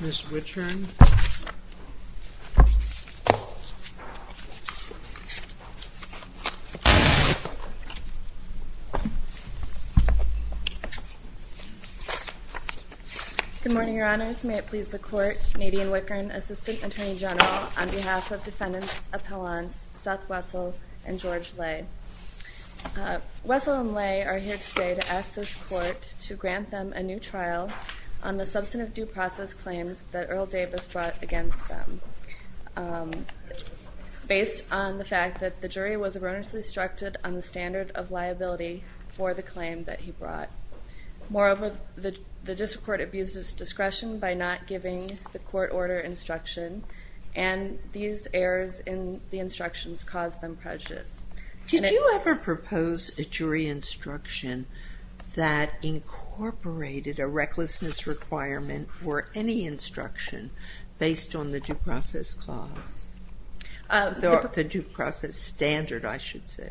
Ms. Wittgen. Good morning, Your Honors. May it please the Court, Nadine Wittgen, Assistant Attorney General, on behalf of Defendants Appellants Seth Wessel and George Lay. Wessel and Lay are here today to ask this Court to grant them a new trial on the substantive due process claims that Earl Davis brought against them, based on the fact that the jury was erroneously instructed on the standard of liability for the claim that he brought. Moreover, the District Court abused its discretion by not giving the court order instruction, and these errors in the instructions caused them prejudice. Did you ever propose a jury instruction that incorporated a recklessness requirement for any instruction based on the due process clause? The due process standard, I should say.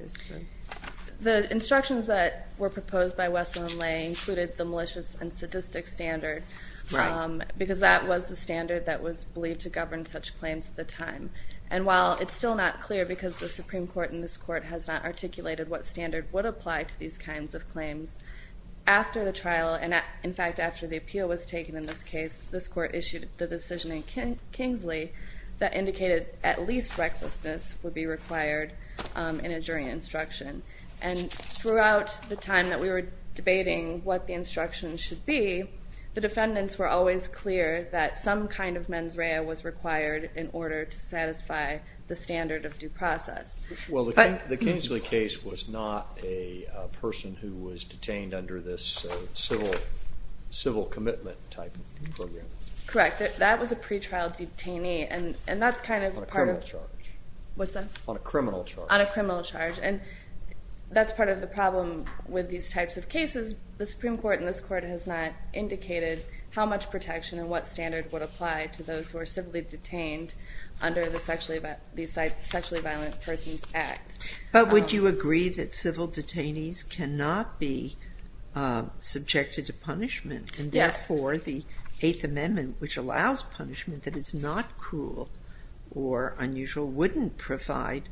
The instructions that were proposed by Wessel and Lay included the malicious and sadistic standard, because that was the standard that was believed to govern such claims at the time. And while it's still not clear, because the Supreme Court in this Court has not articulated what standard would apply to these kinds of claims, after the trial, and in fact after the appeal was taken in this case, this Court issued the decision in Kingsley that indicated at least recklessness would be required in a jury instruction. And throughout the time that we were debating what the instruction should be, the defendants were always clear that some kind of mens rea was required in order to satisfy the standard of due process. Well, the Kingsley case was not a person who was detained under this civil commitment type of program. Correct. That was a pre-trial detainee, and that's kind of part of... On a criminal charge. What's that? On a criminal charge. On a criminal charge. And that's part of the problem with these types of cases. The Supreme Court in this Court has not indicated detained under the Sexually Violent Persons Act. But would you agree that civil detainees cannot be subjected to punishment, and therefore the Eighth Amendment, which allows punishment that is not cruel or unusual, wouldn't provide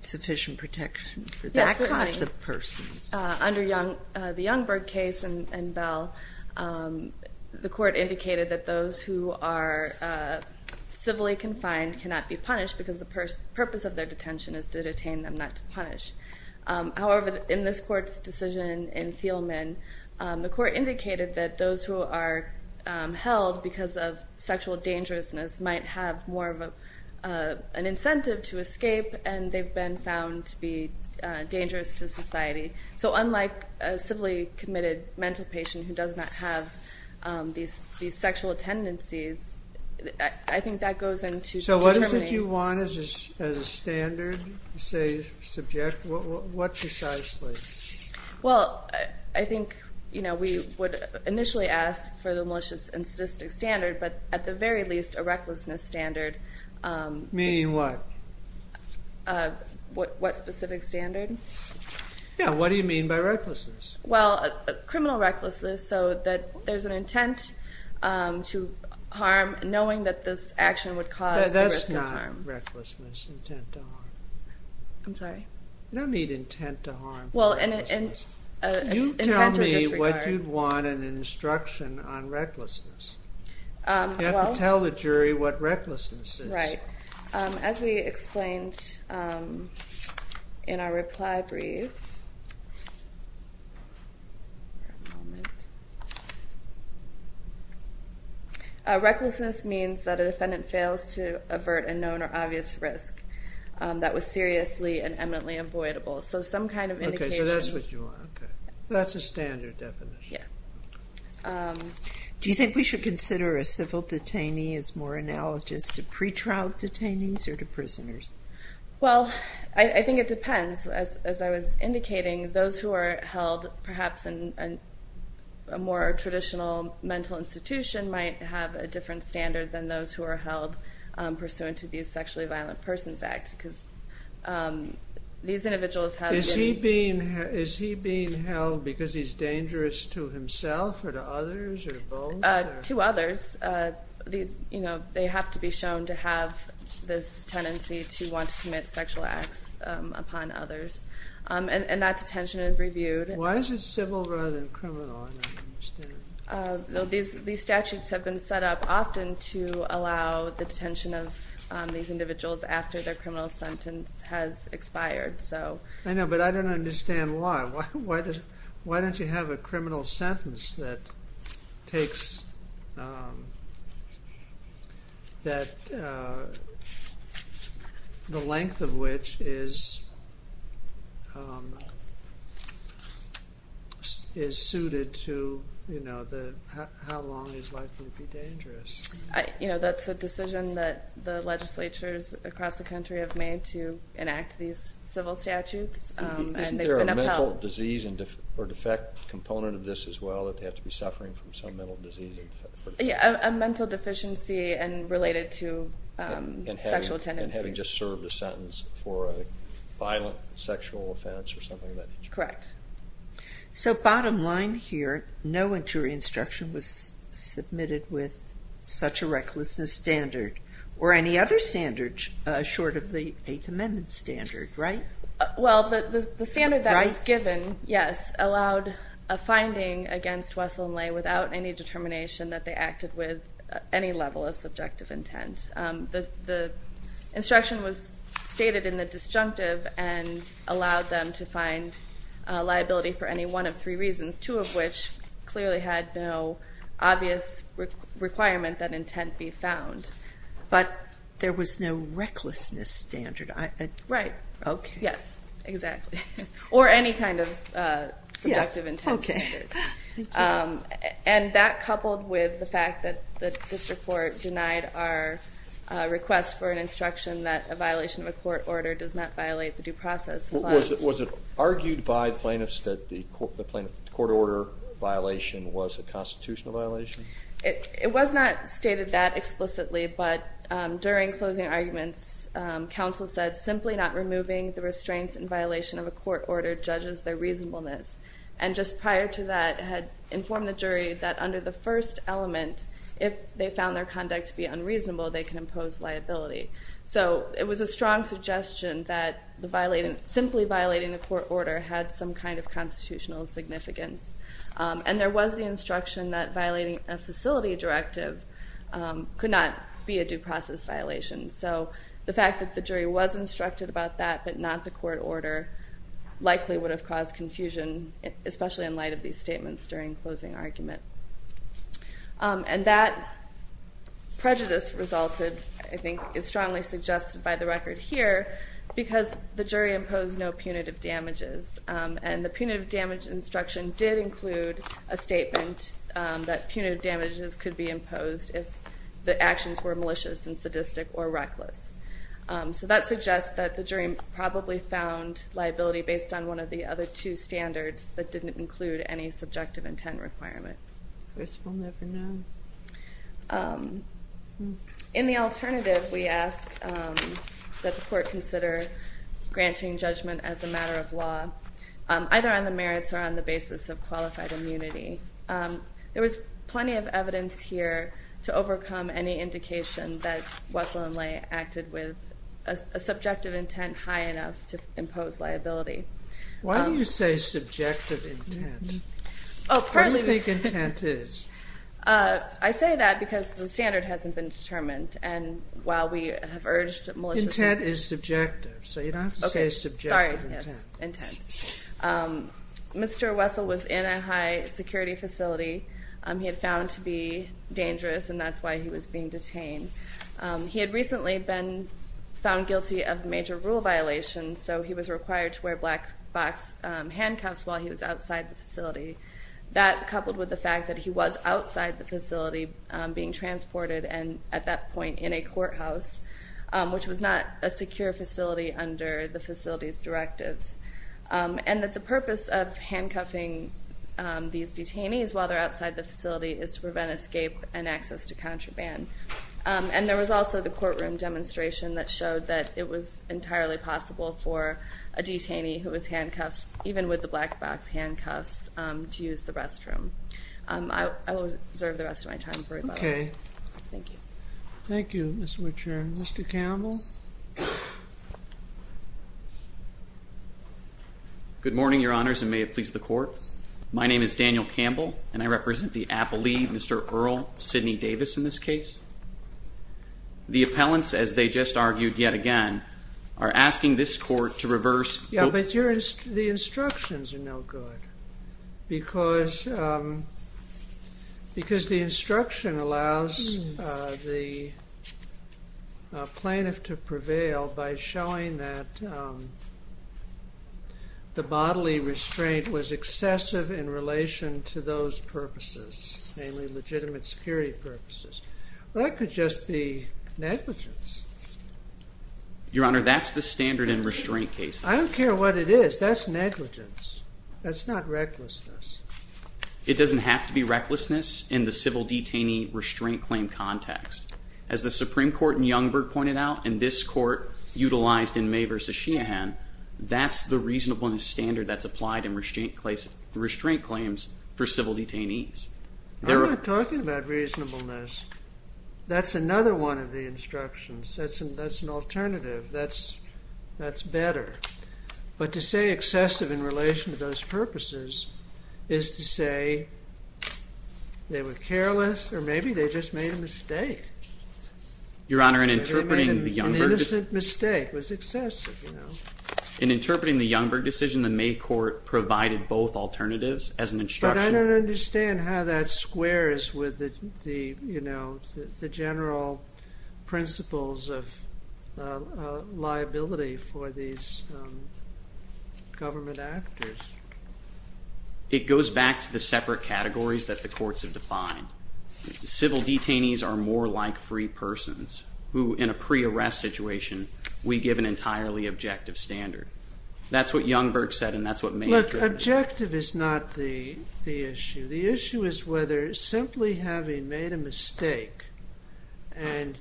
sufficient protection for that class of persons. Under the Youngberg case and Bell, the Court indicated that those who are civilly confined cannot be punished because the purpose of their detention is to detain them, not to punish. However, in this Court's decision in Thielmann, the Court indicated that those who are held because of sexual dangerousness might have more of an incentive to escape, and they've been found to be dangerous to society. So unlike a civilly committed mental patient who does not have these sexual tendencies, I think that goes into... So what is it you want as a standard, say, subject? What precisely? Well, I think we would initially ask for the malicious and specific standard. Yeah, what do you mean by recklessness? Well, criminal recklessness, so that there's an intent to harm, knowing that this action would cause the risk of harm. That's not recklessness, intent to harm. I'm sorry? You don't need intent to harm for recklessness. You tell me what you'd want in an instruction on recklessness. You have to tell the jury what recklessness is. As we explained in our reply brief, a recklessness means that a defendant fails to avert a known or obvious risk that was seriously and eminently avoidable. So some kind of indication... Okay, so that's what you want. That's a standard definition. Yeah. Do you think we should consider a civil detainee as more analogous to pretrial detainees or to prisoners? Well, I think it depends. As I was indicating, those who are held perhaps in a more traditional mental institution might have a different standard than those who are held pursuant to the Sexually Violent Persons Act, because these individuals have... Is he being held because he's dangerous to himself or to others or both? To others. They have to be shown to have this tendency to want to commit sexual acts upon others, and that detention is reviewed. Why is it civil rather than criminal? I don't understand. These statutes have been set up often to allow the detention of these individuals after their criminal sentence has expired. I know, but I don't understand why. Why don't you have a statute that says that the length of which is suited to how long he's likely to be dangerous? That's a decision that the legislatures across the country have made to enact these civil statutes. Isn't there a mental disease or defect component of this as well, that they have to be suffering from some mental disease? A mental deficiency and related to sexual tendencies. And having just served a sentence for a violent sexual offense or something like that. Correct. So bottom line here, no injury instruction was submitted with such a recklessness standard, or any other standards short of the Eighth Amendment standard, right? Well, the standard that was given, yes, allowed a finding against Wessel and Ley without any determination that they acted with any level of subjective intent. The instruction was stated in the disjunctive and allowed them to find liability for any one of three reasons, two of which clearly had no obvious requirement that intent be found. But there was no recklessness standard. Right. Yes, exactly. Or any kind of subjective intent standard. And that coupled with the fact that the district court denied our request for an instruction that a violation of a court order does not violate the due process. Was it argued by plaintiffs that the court order violation was a constitutional violation? It was not stated that explicitly, but during closing arguments, counsel said simply not removing the restraints in violation of a court order judges their reasonableness. And just prior to that had informed the jury that under the first element, if they found their conduct to be unreasonable, they can impose liability. So it was a strong suggestion that simply violating the court order had some kind of constitutional significance. And there was the instruction that violating a facility directive could not be a due process violation. So the fact that the jury was instructed about that, but not the court order, likely would have caused confusion, especially in light of these statements during closing argument. And that prejudice resulted, I think, is strongly suggested by the record here because the jury imposed no punitive damages. And the punitive damage instruction did include a statement that punitive damages could be imposed if the actions were malicious and sadistic or reckless. So that suggests that the jury probably found liability based on one of the other two standards that didn't include any subjective intent requirement. In the alternative, we ask that the court consider granting judgment as a matter of law, either on the merits or on the basis of qualified immunity. There was plenty of evidence here to overcome any indication that Wessel and Lay acted with a subjective intent high enough to impose liability. Why do you say subjective intent? Oh, pardon me. What do you think intent is? I say that because the standard hasn't been determined. And while we have urged malicious is subjective. So you don't have to say subjective intent. Sorry, yes, intent. Mr. Wessel was in a high security facility. He had found to be dangerous and that's why he was being detained. He had recently been found guilty of major rule violations. So he was required to wear black box handcuffs while he was outside the facility. That coupled with the fact that he was outside the a secure facility under the facility's directives. And that the purpose of handcuffing these detainees while they're outside the facility is to prevent escape and access to contraband. And there was also the courtroom demonstration that showed that it was entirely possible for a detainee who was handcuffed, even with the black box handcuffs, to use the restroom. I will reserve the rest of my time. Okay. Thank you. Thank you, Mr. Chairman. Mr. Campbell. Good morning, your honors, and may it please the court. My name is Daniel Campbell, and I represent the appellee, Mr. Earl Sidney Davis, in this case. The appellants, as they just argued yet again, are asking this court to reverse. Yeah, but the instructions are no good because the instruction allows the plaintiff to prevail by showing that the bodily restraint was excessive in relation to those purposes, namely legitimate security purposes. That could just be negligence. Your honor, that's the standard in restraint cases. I don't care what it is. That's negligence. That's not recklessness. It doesn't have to be recklessness in the civil detainee restraint claim context. As the Supreme Court in Youngberg pointed out, and this court utilized in May v. Sheehan, that's the reasonableness standard that's applied in restraint claims for civil detainees. I'm not talking about reasonableness. That's another one of the instructions. That's an alternative. That's better. But to say excessive in relation to those purposes is to say they were careless or maybe they just made a mistake. Your honor, in interpreting the Youngberg decision, the May court provided both alternatives as an the general principles of liability for these government actors. It goes back to the separate categories that the courts have defined. Civil detainees are more like free persons who, in a pre-arrest situation, we give an entirely objective standard. That's what Youngberg said and that's what May interpreted. Objective is not the issue. The issue is whether simply having made a mistake and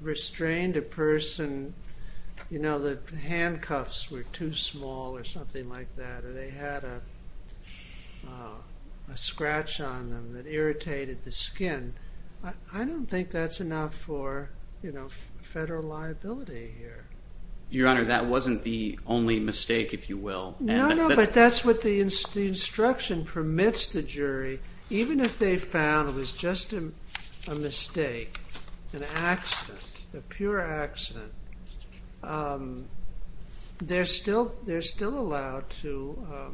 restrained a person, the handcuffs were too small or something like that, or they had a scratch on them that irritated the skin. I don't think that's enough for federal liability here. Your honor, that wasn't the only mistake, if you will. No, no, but that's what the instruction permits the jury. Even if they found it was just a mistake, an accident, a pure accident, they're still allowed to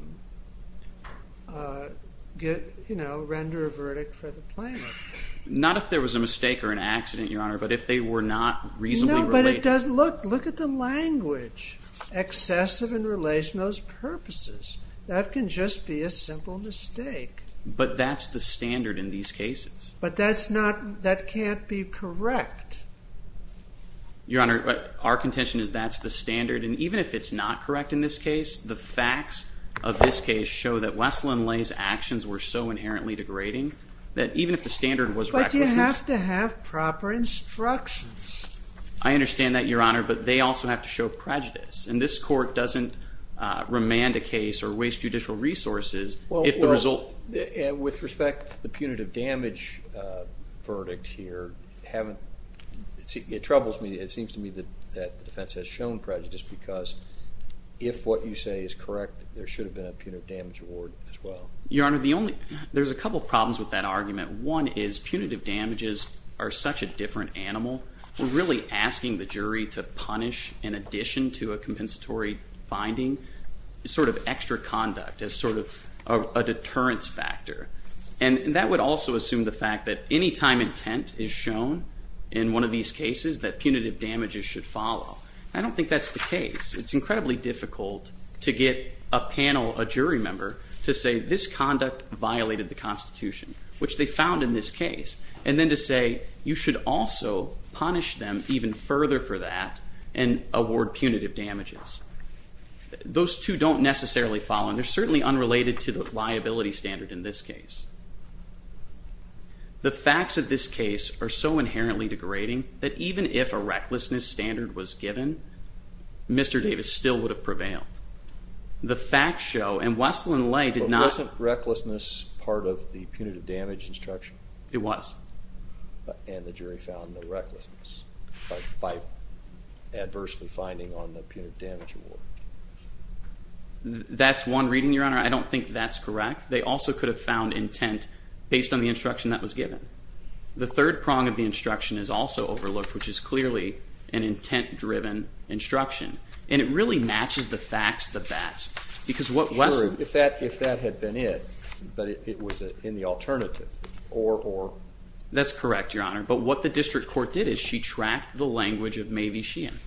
render a verdict for the plaintiff. Not if there was a mistake or accident, your honor, but if they were not reasonably related. No, but look at the language. Excessive in relation to those purposes. That can just be a simple mistake. But that's the standard in these cases. But that can't be correct. Your honor, our contention is that's the standard, and even if it's not correct in this case, the facts of this case show that Wesleyn Lay's actions were so inherently degrading that even if the standard was... But you have to have proper instructions. I understand that, your honor, but they also have to show prejudice. And this court doesn't remand a case or waste judicial resources if the result... With respect to the punitive damage verdict here, it troubles me. It seems to me that the defense has shown prejudice because if what you say is correct, there should have been a punitive damage award as well. Your honor, there's a couple problems with that argument. One is punitive damages are such a different animal. We're really asking the jury to punish in addition to a compensatory finding, sort of extra conduct as sort of a deterrence factor. And that would also assume the fact that any time intent is shown in one of these cases, that punitive damages should follow. I don't think that's the case. It's incredibly difficult to get a panel, a jury member to say this conduct violated the constitution, which they found in this case, and then to say you should also punish them even further for that and award punitive damages. Those two don't necessarily follow, and they're certainly unrelated to the liability standard in this case. The facts of this case are so inherently degrading that even if a recklessness standard was given, Mr. Davis still would have prevailed. The facts show, and Wessel and Lay did not- But wasn't recklessness part of the punitive damage instruction? It was. And the jury found no recklessness by adversely finding on the punitive damage award? That's one reading, your honor. I don't think that's correct. They also could have found intent based on the instruction that was given. The third prong of the instruction is also overlooked, which is clearly an intent-driven instruction. And it really matches the facts the best. Because what Wessel- Sure. If that had been it, but it was in the alternative, or- That's correct, your honor. But what the district court did is she tracked the language of Mae V. Sheehan,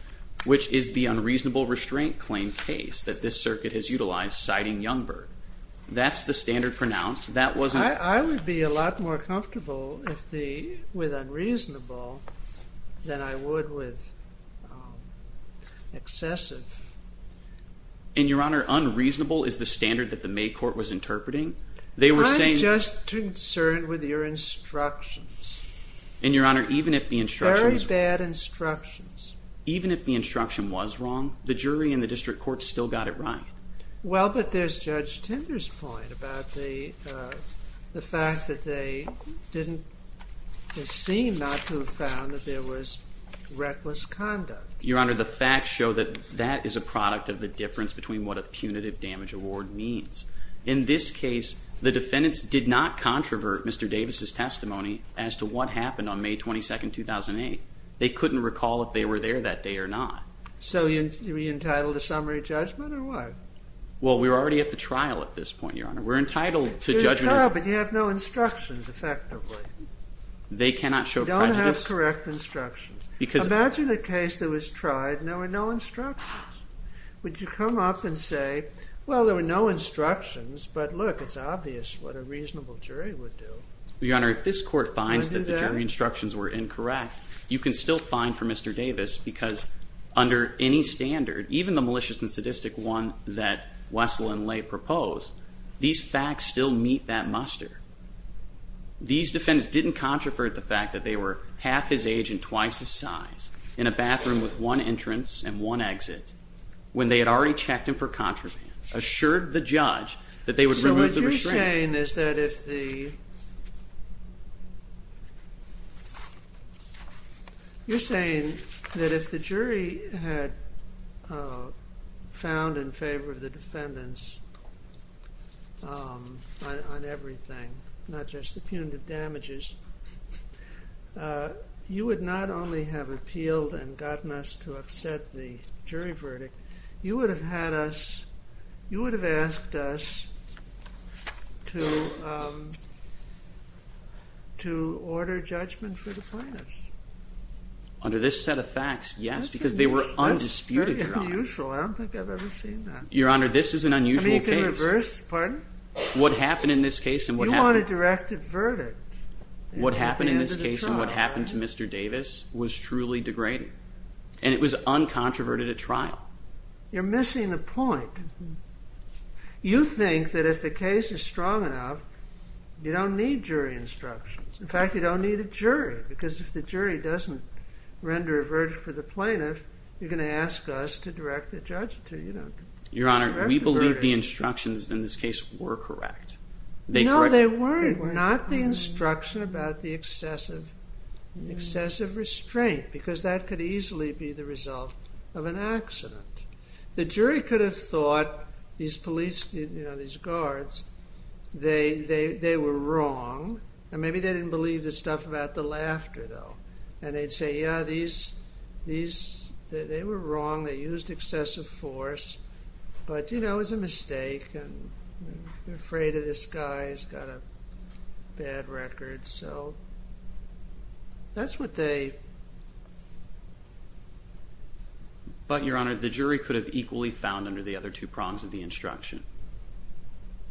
which is the unreasonable restraint claim case that this circuit has utilized, citing Youngberg. That's the standard pronounced. That wasn't- I would be a lot more comfortable with unreasonable than I would with excessive. And your honor, unreasonable is the standard that the Mae court was interpreting. They were saying- I'm just concerned with your instructions. And your honor, even if the instruction- Very bad instructions. Even if the instruction was wrong, the jury and the district court still got it right. Well, but there's Judge Tinder's point about the fact that they didn't seem not to have found that there was reckless conduct. Your honor, the facts show that that is a product of the difference between what a punitive damage award means. In this case, the defendants did not controvert Mr. Davis's testimony as to what happened on May 22nd, 2008. They couldn't recall if they were there that day or not. So you're entitled to summary judgment or what? Well, we were already at the trial at this point, your honor. We're entitled to- You're entitled, but you have no instructions, effectively. They cannot show prejudice- You don't have correct instructions. Imagine a case that was tried and there were no instructions. Would you come up and say, well, there were no instructions, but look, it's obvious what a reasonable jury would do. Your honor, if this court finds that the jury instructions were incorrect, you can still Mr. Davis because under any standard, even the malicious and sadistic one that Wessel and Lay proposed, these facts still meet that muster. These defendants didn't controvert the fact that they were half his age and twice his size, in a bathroom with one entrance and one exit, when they had already checked him for contraband, assured the judge that they would remove the restraints. What you're saying is that if the jury had found in favor of the defendants on everything, not just the punitive damages, you would not only have appealed and gotten us to upset the jury to, um, to order judgment for the plaintiffs. Under this set of facts, yes, because they were undisputed trial. That's very unusual. I don't think I've ever seen that. Your honor, this is an unusual case. I mean, you can reverse, pardon? What happened in this case and what happened- You want a directed verdict at the end of the trial, right? What happened in this case and what happened to Mr. Davis was truly degrading. And it was uncontroverted at trial. You're missing the point. You think that if the case is strong enough, you don't need jury instructions. In fact, you don't need a jury because if the jury doesn't render a verdict for the plaintiff, you're going to ask us to direct the judge to, you know- Your honor, we believe the instructions in this case were correct. No, they weren't. Not the instruction about the excessive, excessive restraint, because that could easily be the result of an accident. The jury could have thought these police, you know, these guards, they were wrong. And maybe they didn't believe the stuff about the laughter, though. And they'd say, yeah, these, these, they were wrong. They used excessive force. But, you know, it was a mistake. And they're afraid of this guy. He's got a bad record. So that's what they- But, your honor, the jury could have equally found under the other two prongs of the instruction.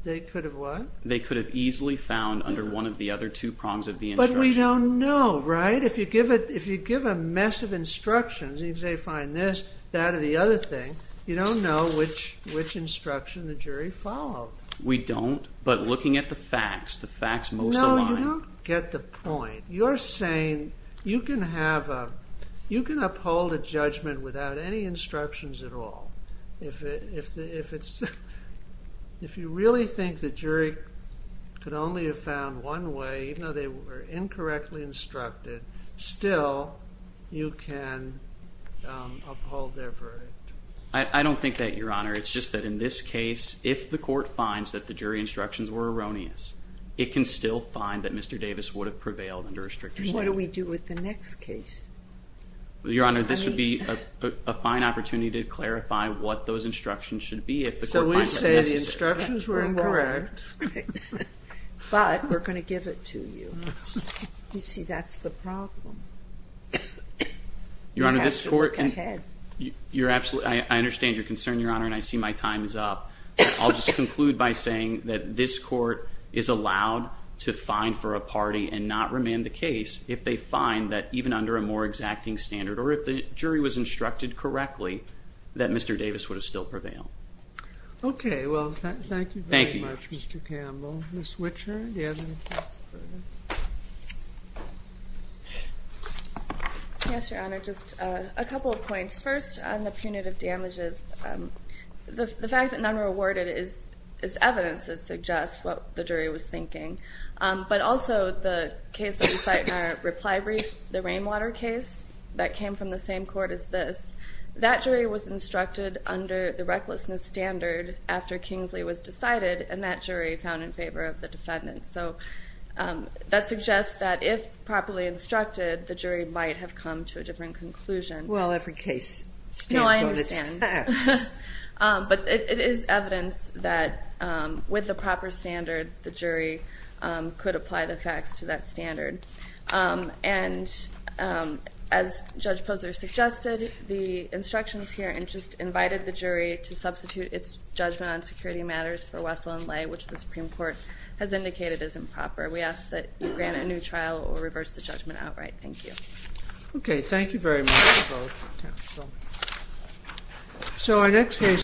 They could have what? They could have easily found under one of the other two prongs of the instruction. But we don't know, right? If you give it, if you give a mess of instructions, if they find this, that, or the other thing, you don't know which, which instruction the jury followed. We don't. But looking at the facts, the facts most- No, you don't get the point. You're saying you can have a, you can uphold a judgment without any instructions at all. If it, if it's, if you really think the jury could only have found one way, even though they were incorrectly instructed, still you can uphold their verdict. I don't think that, your honor. It's just that in this case, if the court finds that the jury instructions were erroneous, it can still find that Mr. Davis would have prevailed under a stricter statute. And what do we do with the next case? Your honor, this would be a fine opportunity to clarify what those instructions should be. So we'd say the instructions were incorrect. But we're going to give it to you. You see, that's the problem. Your honor, this court- We have to look ahead. You're absolutely, I understand your concern, your honor, and I see my time is up. I'll just conclude by saying that this court is allowed to fine for a party and not remand the case if they find that even under a more exacting standard, or if the jury was instructed correctly, that Mr. Davis would have still prevailed. Okay. Well, thank you very much, Mr. Campbell. Ms. Wichert, do you have anything further? Yes, your honor, just a couple of points. First, on the punitive damages. The fact that none were awarded is evidence that suggests what the jury was thinking. But also, the case that we cite in our reply brief, the Rainwater case that came from the same court as this, that jury was instructed under the recklessness standard after Kingsley was decided, and that jury found in favor of the defendant. So that suggests that if properly instructed, the jury might have come to a different conclusion. Well, every case stands on its facts. No, I understand. But it is evidence that with the proper standard, the jury could apply the facts to that standard. And as Judge Posner suggested, the instructions here invited the jury to substitute its judgment on security matters for Wessel and Lay, which the Supreme Court has indicated is improper. We ask that you grant a new trial or reverse the judgment outright. Thank you. Okay. Thank you very much. So our next case.